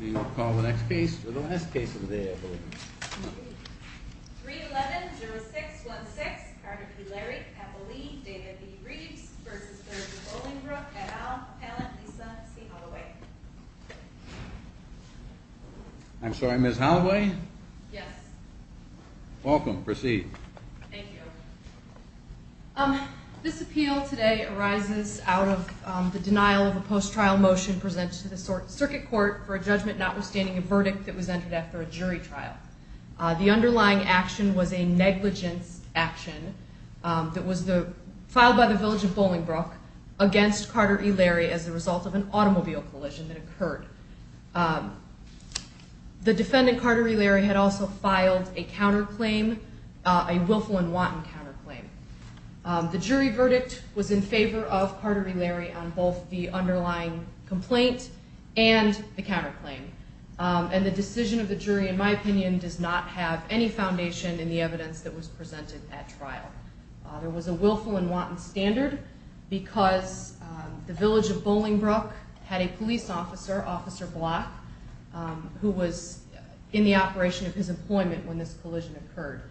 We will call the next case, or the last case of the day, I believe. 311-0616, Carter P. Larry, Cappelli, David B. Reeves v. Village of Bollingbrook, et al., Appellant Lisa C. Holloway. I'm sorry, Ms. Holloway? Yes. Welcome. Proceed. Thank you. This appeal today arises out of the denial of a post-trial motion presented to the Circuit Court for a judgment notwithstanding a verdict that was entered after a jury trial. The underlying action was a negligence action that was filed by the Village of Bollingbrook against Carter E. Larry as a result of an automobile collision that occurred. The defendant, Carter E. Larry, had also filed a counterclaim, a willful and wanton counterclaim. The jury verdict was in favor of Carter E. Larry on both the underlying complaint and the counterclaim. And the decision of the jury, in my opinion, does not have any foundation in the evidence that was presented at trial. There was a willful and wanton standard because the Village of Bollingbrook had a police officer, Officer Block, who was in the operation of his employment when this collision occurred.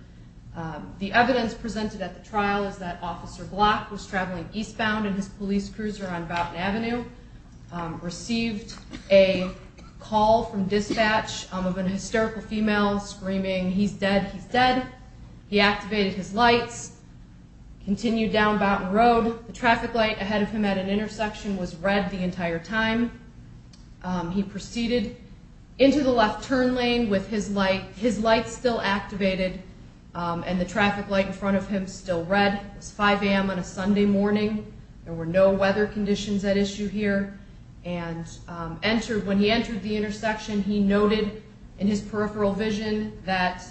The evidence presented at the trial is that Officer Block was traveling eastbound in his police cruiser on Boughton Avenue, received a call from dispatch of an hysterical female screaming, he's dead, he's dead. He activated his lights, continued down Boughton Road. The traffic light ahead of him at an intersection was red the entire time. He proceeded into the left turn lane with his light still activated and the traffic light in front of him still red. It was 5 a.m. on a Sunday morning. There were no weather conditions at issue here. When he entered the intersection, he noted in his peripheral vision that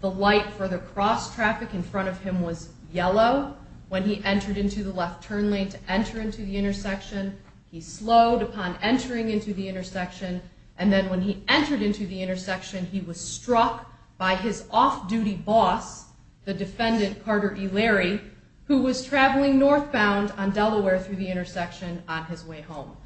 the light for the cross traffic in front of him was yellow. When he entered into the left turn lane to enter into the intersection, he slowed upon entering into the intersection. And then when he entered into the intersection, he was struck by his off-duty boss, the defendant Carter E. Larry, who was traveling northbound on Delaware through the intersection on his way home.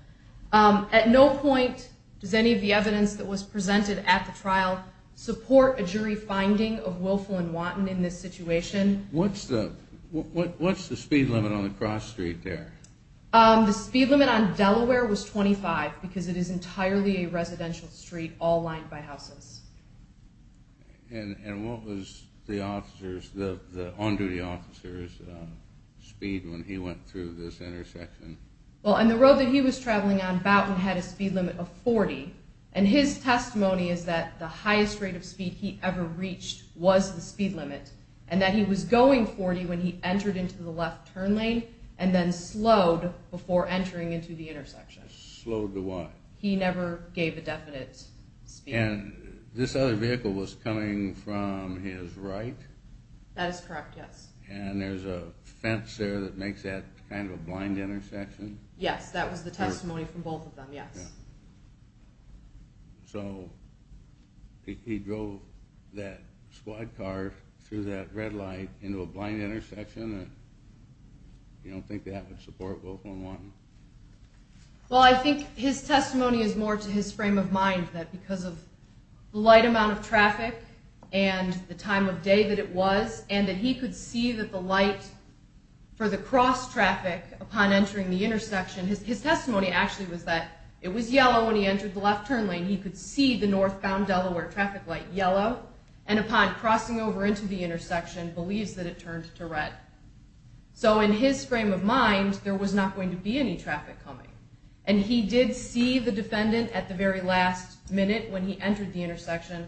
At no point does any of the evidence that was presented at the trial support a jury finding of willful and wanton in this situation. What's the speed limit on the cross street there? The speed limit on Delaware was 25 because it is entirely a residential street all lined by houses. And what was the officer's, the on-duty officer's speed when he went through this intersection? Well, on the road that he was traveling on, Boughton had a speed limit of 40. And his testimony is that the highest rate of speed he ever reached was the speed limit and that he was going 40 when he entered into the left turn lane and then slowed before entering into the intersection. Slowed to what? He never gave a definite speed. And this other vehicle was coming from his right? That is correct, yes. And there's a fence there that makes that kind of a blind intersection? Yes, that was the testimony from both of them, yes. So he drove that squad car through that red light into a blind intersection? You don't think that would support willful and wanton? Well, I think his testimony is more to his frame of mind that because of the light amount of traffic and the time of day that it was, and that he could see that the light for the cross traffic upon entering the intersection, his testimony actually was that it was yellow when he entered the left turn lane, he could see the northbound Delaware traffic light yellow, and upon crossing over into the intersection believes that it turned to red. So in his frame of mind, there was not going to be any traffic coming. And he did see the defendant at the very last minute when he entered the intersection,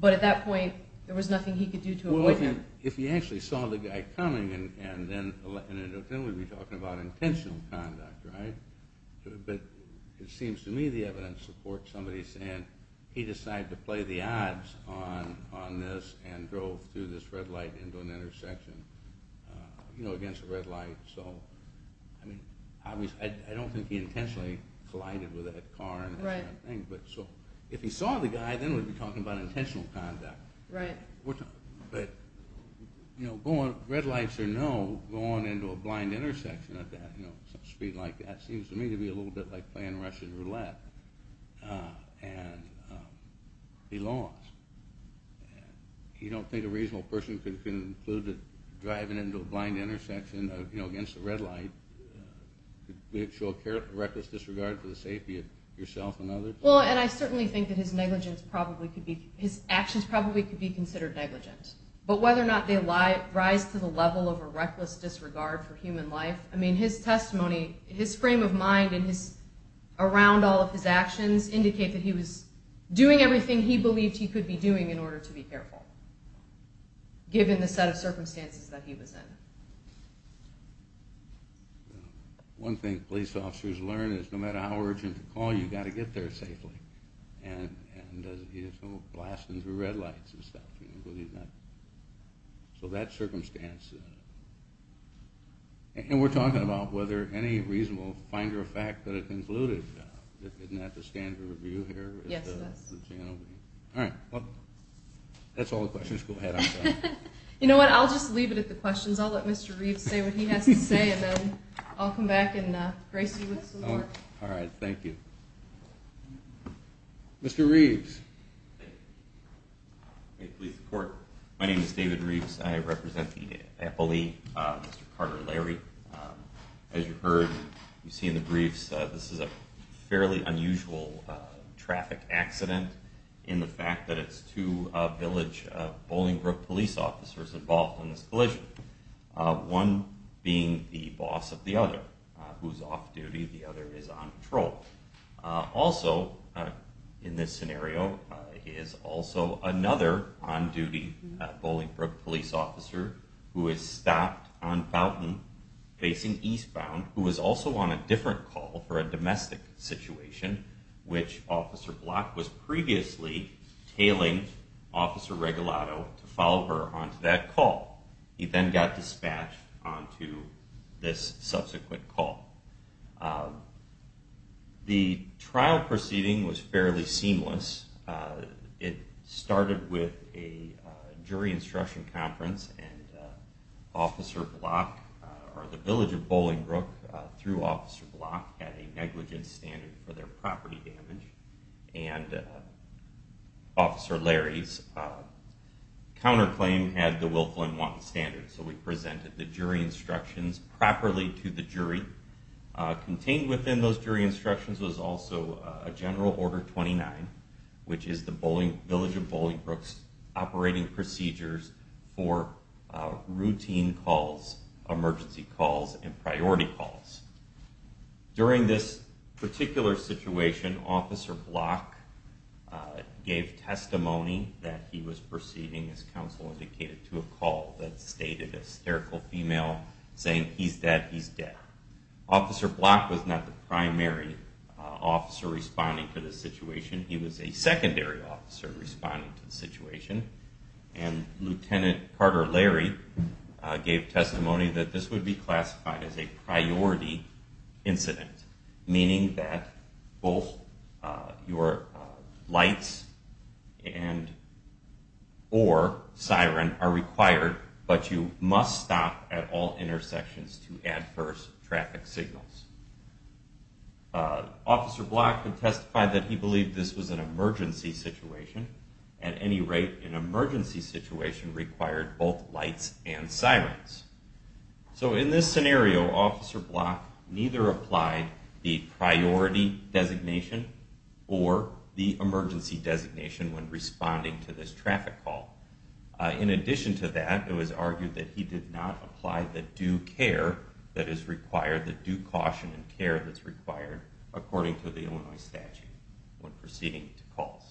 but at that point there was nothing he could do to avoid it. If he actually saw the guy coming, then we'd be talking about intentional conduct, right? But it seems to me the evidence supports somebody saying he decided to play the odds on this and drove through this red light into an intersection, you know, against a red light. I don't think he intentionally collided with that car. So if he saw the guy, then we'd be talking about intentional conduct. Right. But, you know, red lights or no going into a blind intersection at that speed like that seems to me to be a little bit like playing Russian roulette. And he lost. You don't think a reasonable person could conclude that driving into a blind intersection against a red light would show reckless disregard for the safety of yourself and others? Well, and I certainly think that his actions probably could be considered negligent. But whether or not they rise to the level of a reckless disregard for human life, I mean, his testimony, his frame of mind around all of his actions indicate that he was doing everything he believed he could be doing in order to be careful, given the set of circumstances that he was in. One thing police officers learn is no matter how urgent the call, you've got to get there safely. And he didn't come blasting through red lights and stuff. So that circumstance. And we're talking about whether any reasonable finder of fact that it concluded. Isn't that the standard review here? Yes, it is. All right. That's all the questions. Go ahead. You know what? I'll just leave it at the questions. I'll let Mr. Reeves say what he has to say, and then I'll come back and grace you with some more. All right. Thank you. Mr. Reeves. May it please the Court. My name is David Reeves. I represent the FLE, Mr. Carter Larry. As you heard, you see in the briefs, this is a fairly unusual traffic accident in the fact that it's two village Bolingbrook police officers involved. One being the boss of the other, who's off-duty. The other is on patrol. Also, in this scenario, is also another on-duty Bolingbrook police officer who is stopped on Fountain facing eastbound, who is also on a different call for a domestic situation, which Officer Block was previously tailing Officer Regalado to follow her onto that call. He then got dispatched onto this subsequent call. The trial proceeding was fairly seamless. It started with a jury instruction conference, and Officer Block, or the village of Bolingbrook, through Officer Block, had a negligence standard for their property damage. And Officer Larry's counterclaim had the Wilflin 1 standard, so we presented the jury instructions properly to the jury. Contained within those jury instructions was also a General Order 29, which is the village of Bolingbrook's operating procedures for routine calls, emergency calls, and priority calls. During this particular situation, Officer Block gave testimony that he was proceeding, as counsel indicated, to a call that stated a hysterical female saying, he's dead, he's dead. Officer Block was not the primary officer responding to this situation. He was a secondary officer responding to the situation. Lieutenant Carter Larry gave testimony that this would be classified as a priority incident, meaning that both your lights and or siren are required, but you must stop at all intersections to adverse traffic signals. Officer Block had testified that he believed this was an emergency situation. At any rate, an emergency situation required both lights and sirens. So in this scenario, Officer Block neither applied the priority designation or the emergency designation when responding to this traffic call. In addition to that, it was argued that he did not apply the due care that is required, the due caution and care that's required, according to the Illinois statute when proceeding to calls.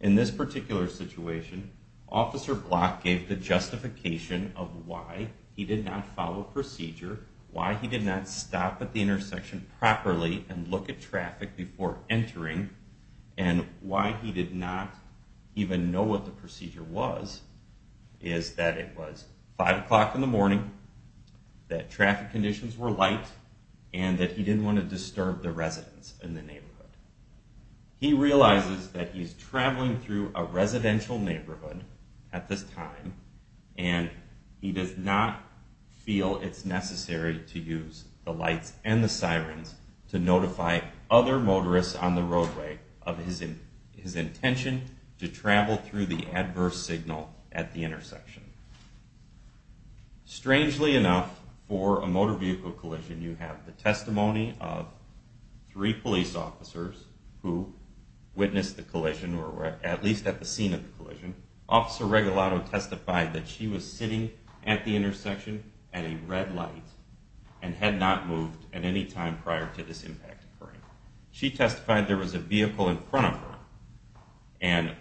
In this particular situation, Officer Block gave the justification of why he did not follow procedure, why he did not stop at the intersection properly and look at traffic before entering, and why he did not even know what the procedure was, is that it was 5 o'clock in the morning, that traffic conditions were light, and that he didn't want to disturb the residents in the neighborhood. He realizes that he's traveling through a residential neighborhood at this time, and he does not feel it's necessary to use the lights and the sirens to notify other motorists on the roadway of his intention to travel through the adverse signal at the intersection. Strangely enough, for a motor vehicle collision, you have the testimony of three police officers who witnessed the collision, or were at least at the scene of the collision. Officer Regalado testified that she was sitting at the intersection at a red light and had not moved at any time prior to this impact occurring. She testified there was a vehicle in front of her, and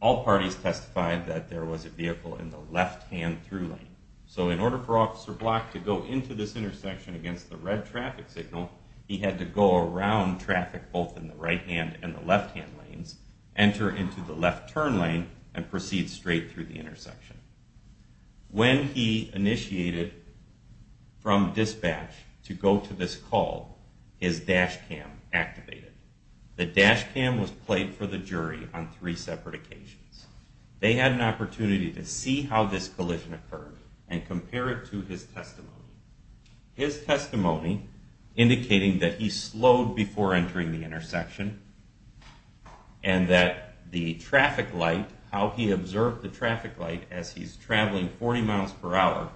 all parties testified that there was a vehicle in the left-hand through lane. So in order for Officer Block to go into this intersection against the red traffic signal, he had to go around traffic both in the right-hand and the left-hand lanes, enter into the left turn lane, and proceed straight through the intersection. When he initiated from dispatch to go to this call, his dash cam activated. The dash cam was played for the jury on three separate occasions. They had an opportunity to see how this collision occurred and compare it to his testimony. His testimony, indicating that he slowed before entering the intersection, and that the traffic light, how he observed the traffic light as he's traveling 40 miles per hour,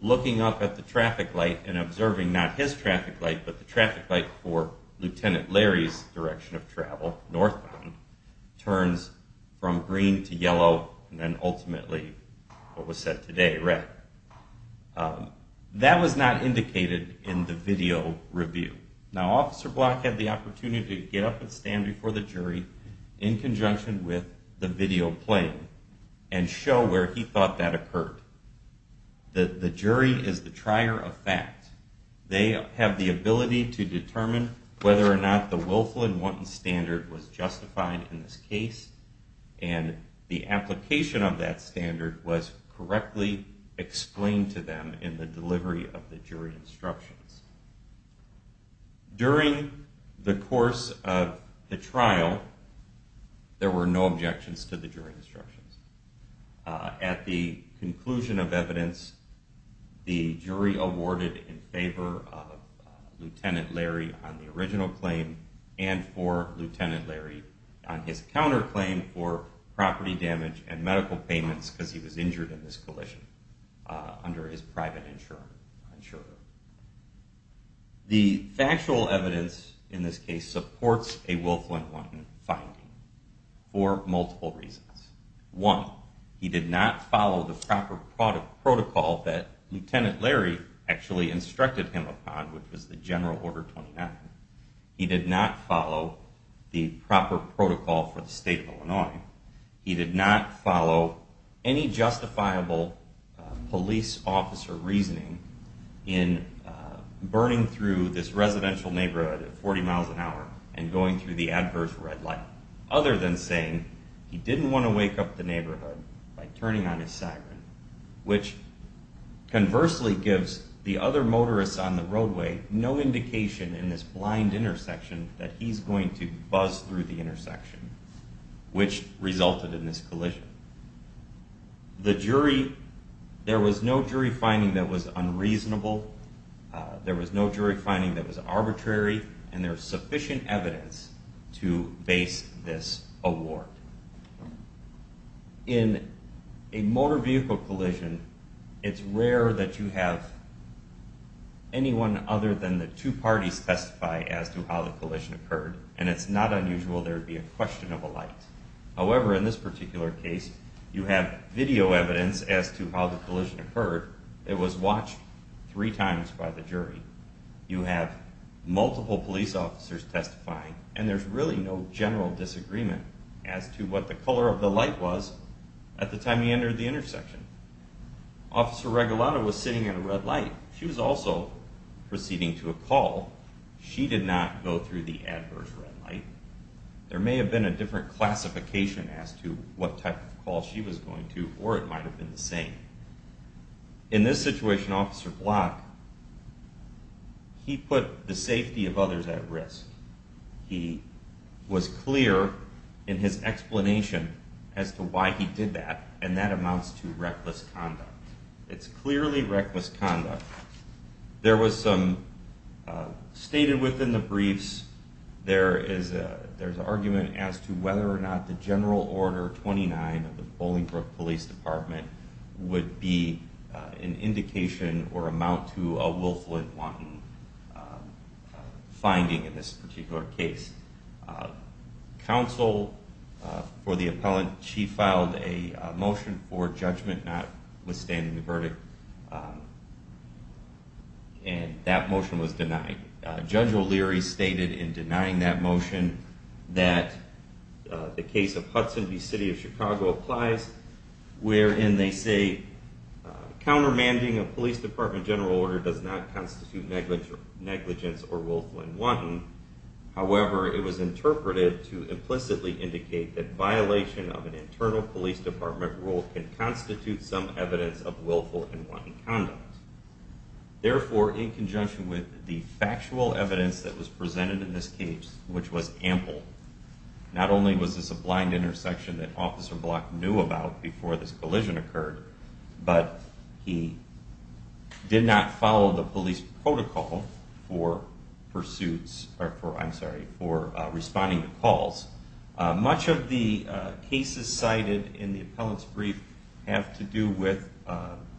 looking up at the traffic light and observing not his traffic light, but the traffic light for Lieutenant Larry's direction of travel, northbound, turns from green to yellow, and then ultimately what was said today, red. That was not indicated in the video review. Now, Officer Block had the opportunity to get up and stand before the jury in conjunction with the video playing, and show where he thought that occurred. The jury is the trier of fact. They have the ability to determine whether or not the willful and wanton standard was justified in this case, and the application of that standard was correctly explained to them in the delivery of the jury instructions. During the course of the trial, there were no objections to the jury instructions. At the conclusion of evidence, the jury awarded in favor of Lieutenant Larry on the original claim, and for Lieutenant Larry on his counterclaim for property damage and medical payments, because he was injured in this collision under his private insurer. The factual evidence in this case supports a willful and wanton finding for multiple reasons. One, he did not follow the proper protocol that Lieutenant Larry actually instructed him upon, which was the General Order 29. He did not follow the proper protocol for the state of Illinois. He did not follow any justifiable police officer reasoning in burning through this residential neighborhood at 40 miles an hour and going through the adverse red light, other than saying he didn't want to wake up the neighborhood by turning on his siren, which conversely gives the other motorists on the roadway no indication in this blind intersection that he's going to buzz through the intersection, which resulted in this collision. There was no jury finding that was unreasonable. There was no jury finding that was arbitrary, and there is sufficient evidence to base this award. In a motor vehicle collision, it's rare that you have anyone other than the two parties testify as to how the collision occurred, and it's not unusual there would be a question of a light. However, in this particular case, you have video evidence as to how the collision occurred. It was watched three times by the jury. You have multiple police officers testifying, and there's really no general disagreement as to what the color of the light was at the time he entered the intersection. Officer Regalado was sitting in a red light. She was also proceeding to a call. She did not go through the adverse red light. There may have been a different classification as to what type of call she was going to, or it might have been the same. In this situation, Officer Block, he put the safety of others at risk. He was clear in his explanation as to why he did that, and that amounts to reckless conduct. It's clearly reckless conduct. There was some stated within the briefs. There is an argument as to whether or not the general order 29 of the Bolingbrook Police Department would be an indication or amount to a willful and wanton finding in this particular case. Counsel for the appellant, she filed a motion for judgment notwithstanding the verdict, and that motion was denied. Judge O'Leary stated in denying that motion that the case of Hudson v. City of Chicago applies, wherein they say, countermanding a police department general order does not constitute negligence or willful and wanton. However, it was interpreted to implicitly indicate that violation of an internal police department rule can constitute some evidence of willful and wanton conduct. Therefore, in conjunction with the factual evidence that was presented in this case, which was ample, not only was this a blind intersection that Officer Block knew about before this collision occurred, but he did not follow the police protocol for responding to calls. Much of the cases cited in the appellant's brief have to do with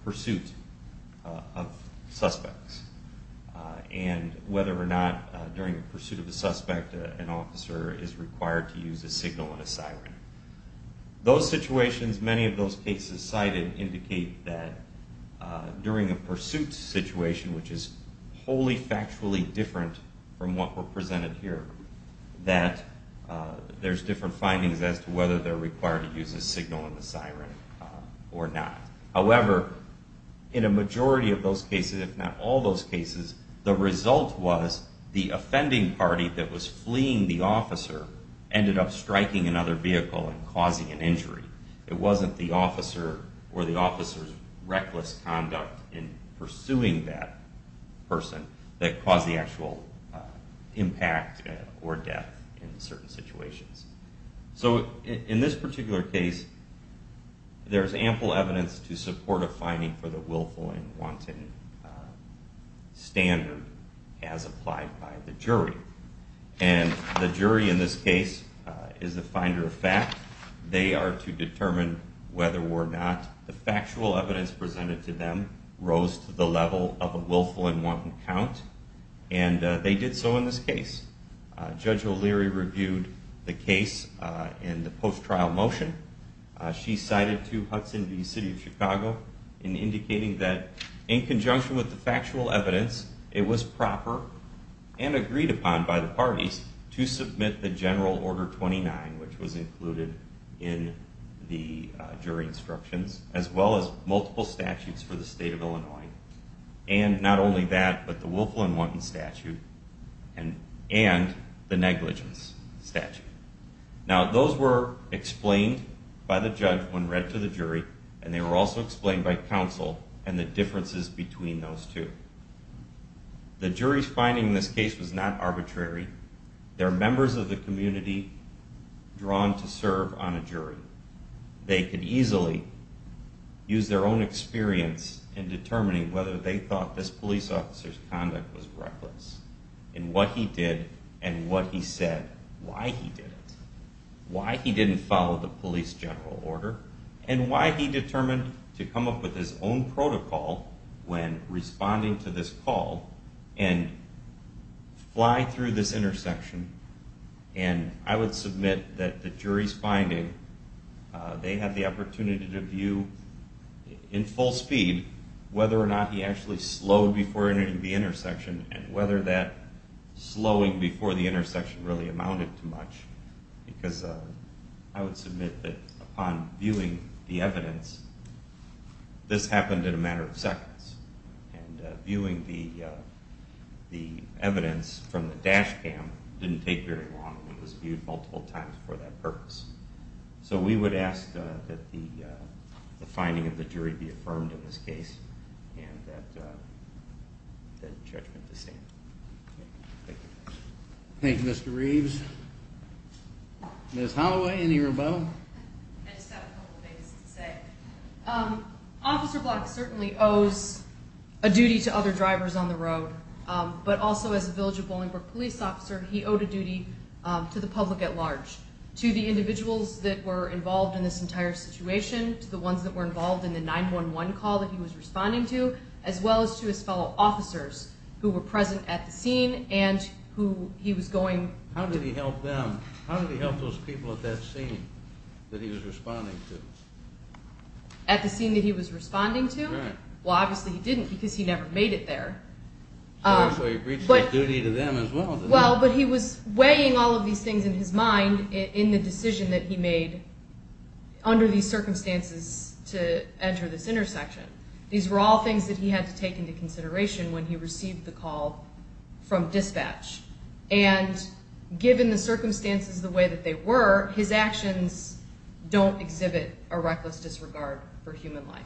pursuit of suspects, and whether or not during the pursuit of the suspect an officer is required to use a signal and a siren. Those situations, many of those cases cited, indicate that during a pursuit situation, which is wholly factually different from what were presented here, that there's different findings as to whether they're required to use a signal and a siren or not. However, in a majority of those cases, if not all those cases, the result was the offending party that was fleeing the officer ended up striking another vehicle and causing an injury. It wasn't the officer or the officer's reckless conduct in pursuing that person that caused the actual impact or death in certain situations. So, in this particular case, there's ample evidence to support a finding for the willful and wanton standard as applied by the jury. And the jury in this case is the finder of fact. They are to determine whether or not the factual evidence presented to them rose to the level of a willful and wanton count, and they did so in this case. Judge O'Leary reviewed the case in the post-trial motion. She cited to Hudson V. City of Chicago in indicating that in conjunction with the factual evidence, it was proper and agreed upon by the parties to submit the General Order 29, which was included in the jury instructions, as well as multiple statutes for the state of Illinois, and not only that, but the willful and wanton statute and the negligence statute. Now, those were explained by the judge when read to the jury, and they were also explained by counsel and the differences between those two. The jury's finding in this case was not arbitrary. They're members of the community drawn to serve on a jury. They could easily use their own experience in determining whether they thought this police officer's conduct was reckless in what he did and what he said, why he did it, why he didn't follow the police general order, and why he determined to come up with his own protocol when responding to this call and fly through this intersection. And I would submit that the jury's finding, they had the opportunity to view in full speed whether or not he actually slowed before entering the intersection and whether that slowing before the intersection really amounted to much, because I would submit that upon viewing the evidence, this happened in a matter of seconds, and viewing the evidence from the dash cam didn't take very long. It was viewed multiple times for that purpose. So we would ask that the finding of the jury be affirmed in this case and that the judgment be sent. Thank you. Thank you, Mr. Reeves. Ms. Holloway, any rebuttal? I just have a couple things to say. Officer Block certainly owes a duty to other drivers on the road, but also as a Village of Bolingbroke police officer, he owed a duty to the public at large, to the individuals that were involved in this entire situation, to the ones that were involved in the 911 call that he was responding to, as well as to his fellow officers who were present at the scene and who he was going to. How did he help them? How did he help those people at that scene that he was responding to? At the scene that he was responding to? Well, obviously he didn't because he never made it there. So he breached his duty to them as well, didn't he? Well, but he was weighing all of these things in his mind in the decision that he made under these circumstances to enter this intersection. These were all things that he had to take into consideration when he received the call from dispatch. And given the circumstances the way that they were, his actions don't exhibit a reckless disregard for human life.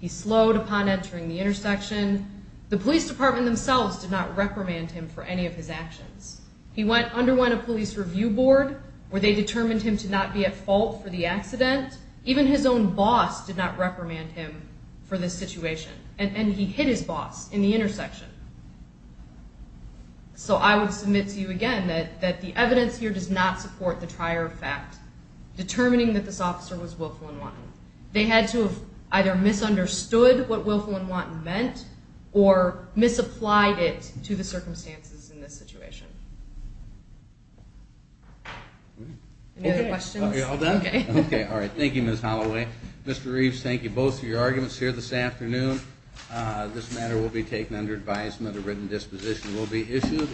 He slowed upon entering the intersection. The police department themselves did not reprimand him for any of his actions. He underwent a police review board where they determined him to not be at fault for the accident. Even his own boss did not reprimand him for this situation. And he hit his boss in the intersection. So I would submit to you again that the evidence here does not support the trier of fact, determining that this officer was willful and wanting. They had to have either misunderstood what willful and wanting meant or misapplied it to the circumstances in this situation. Any other questions? Are we all done? Okay, all right. Thank you, Ms. Holloway. Mr. Reeves, thank you both for your arguments here this afternoon. A written disposition will be issued.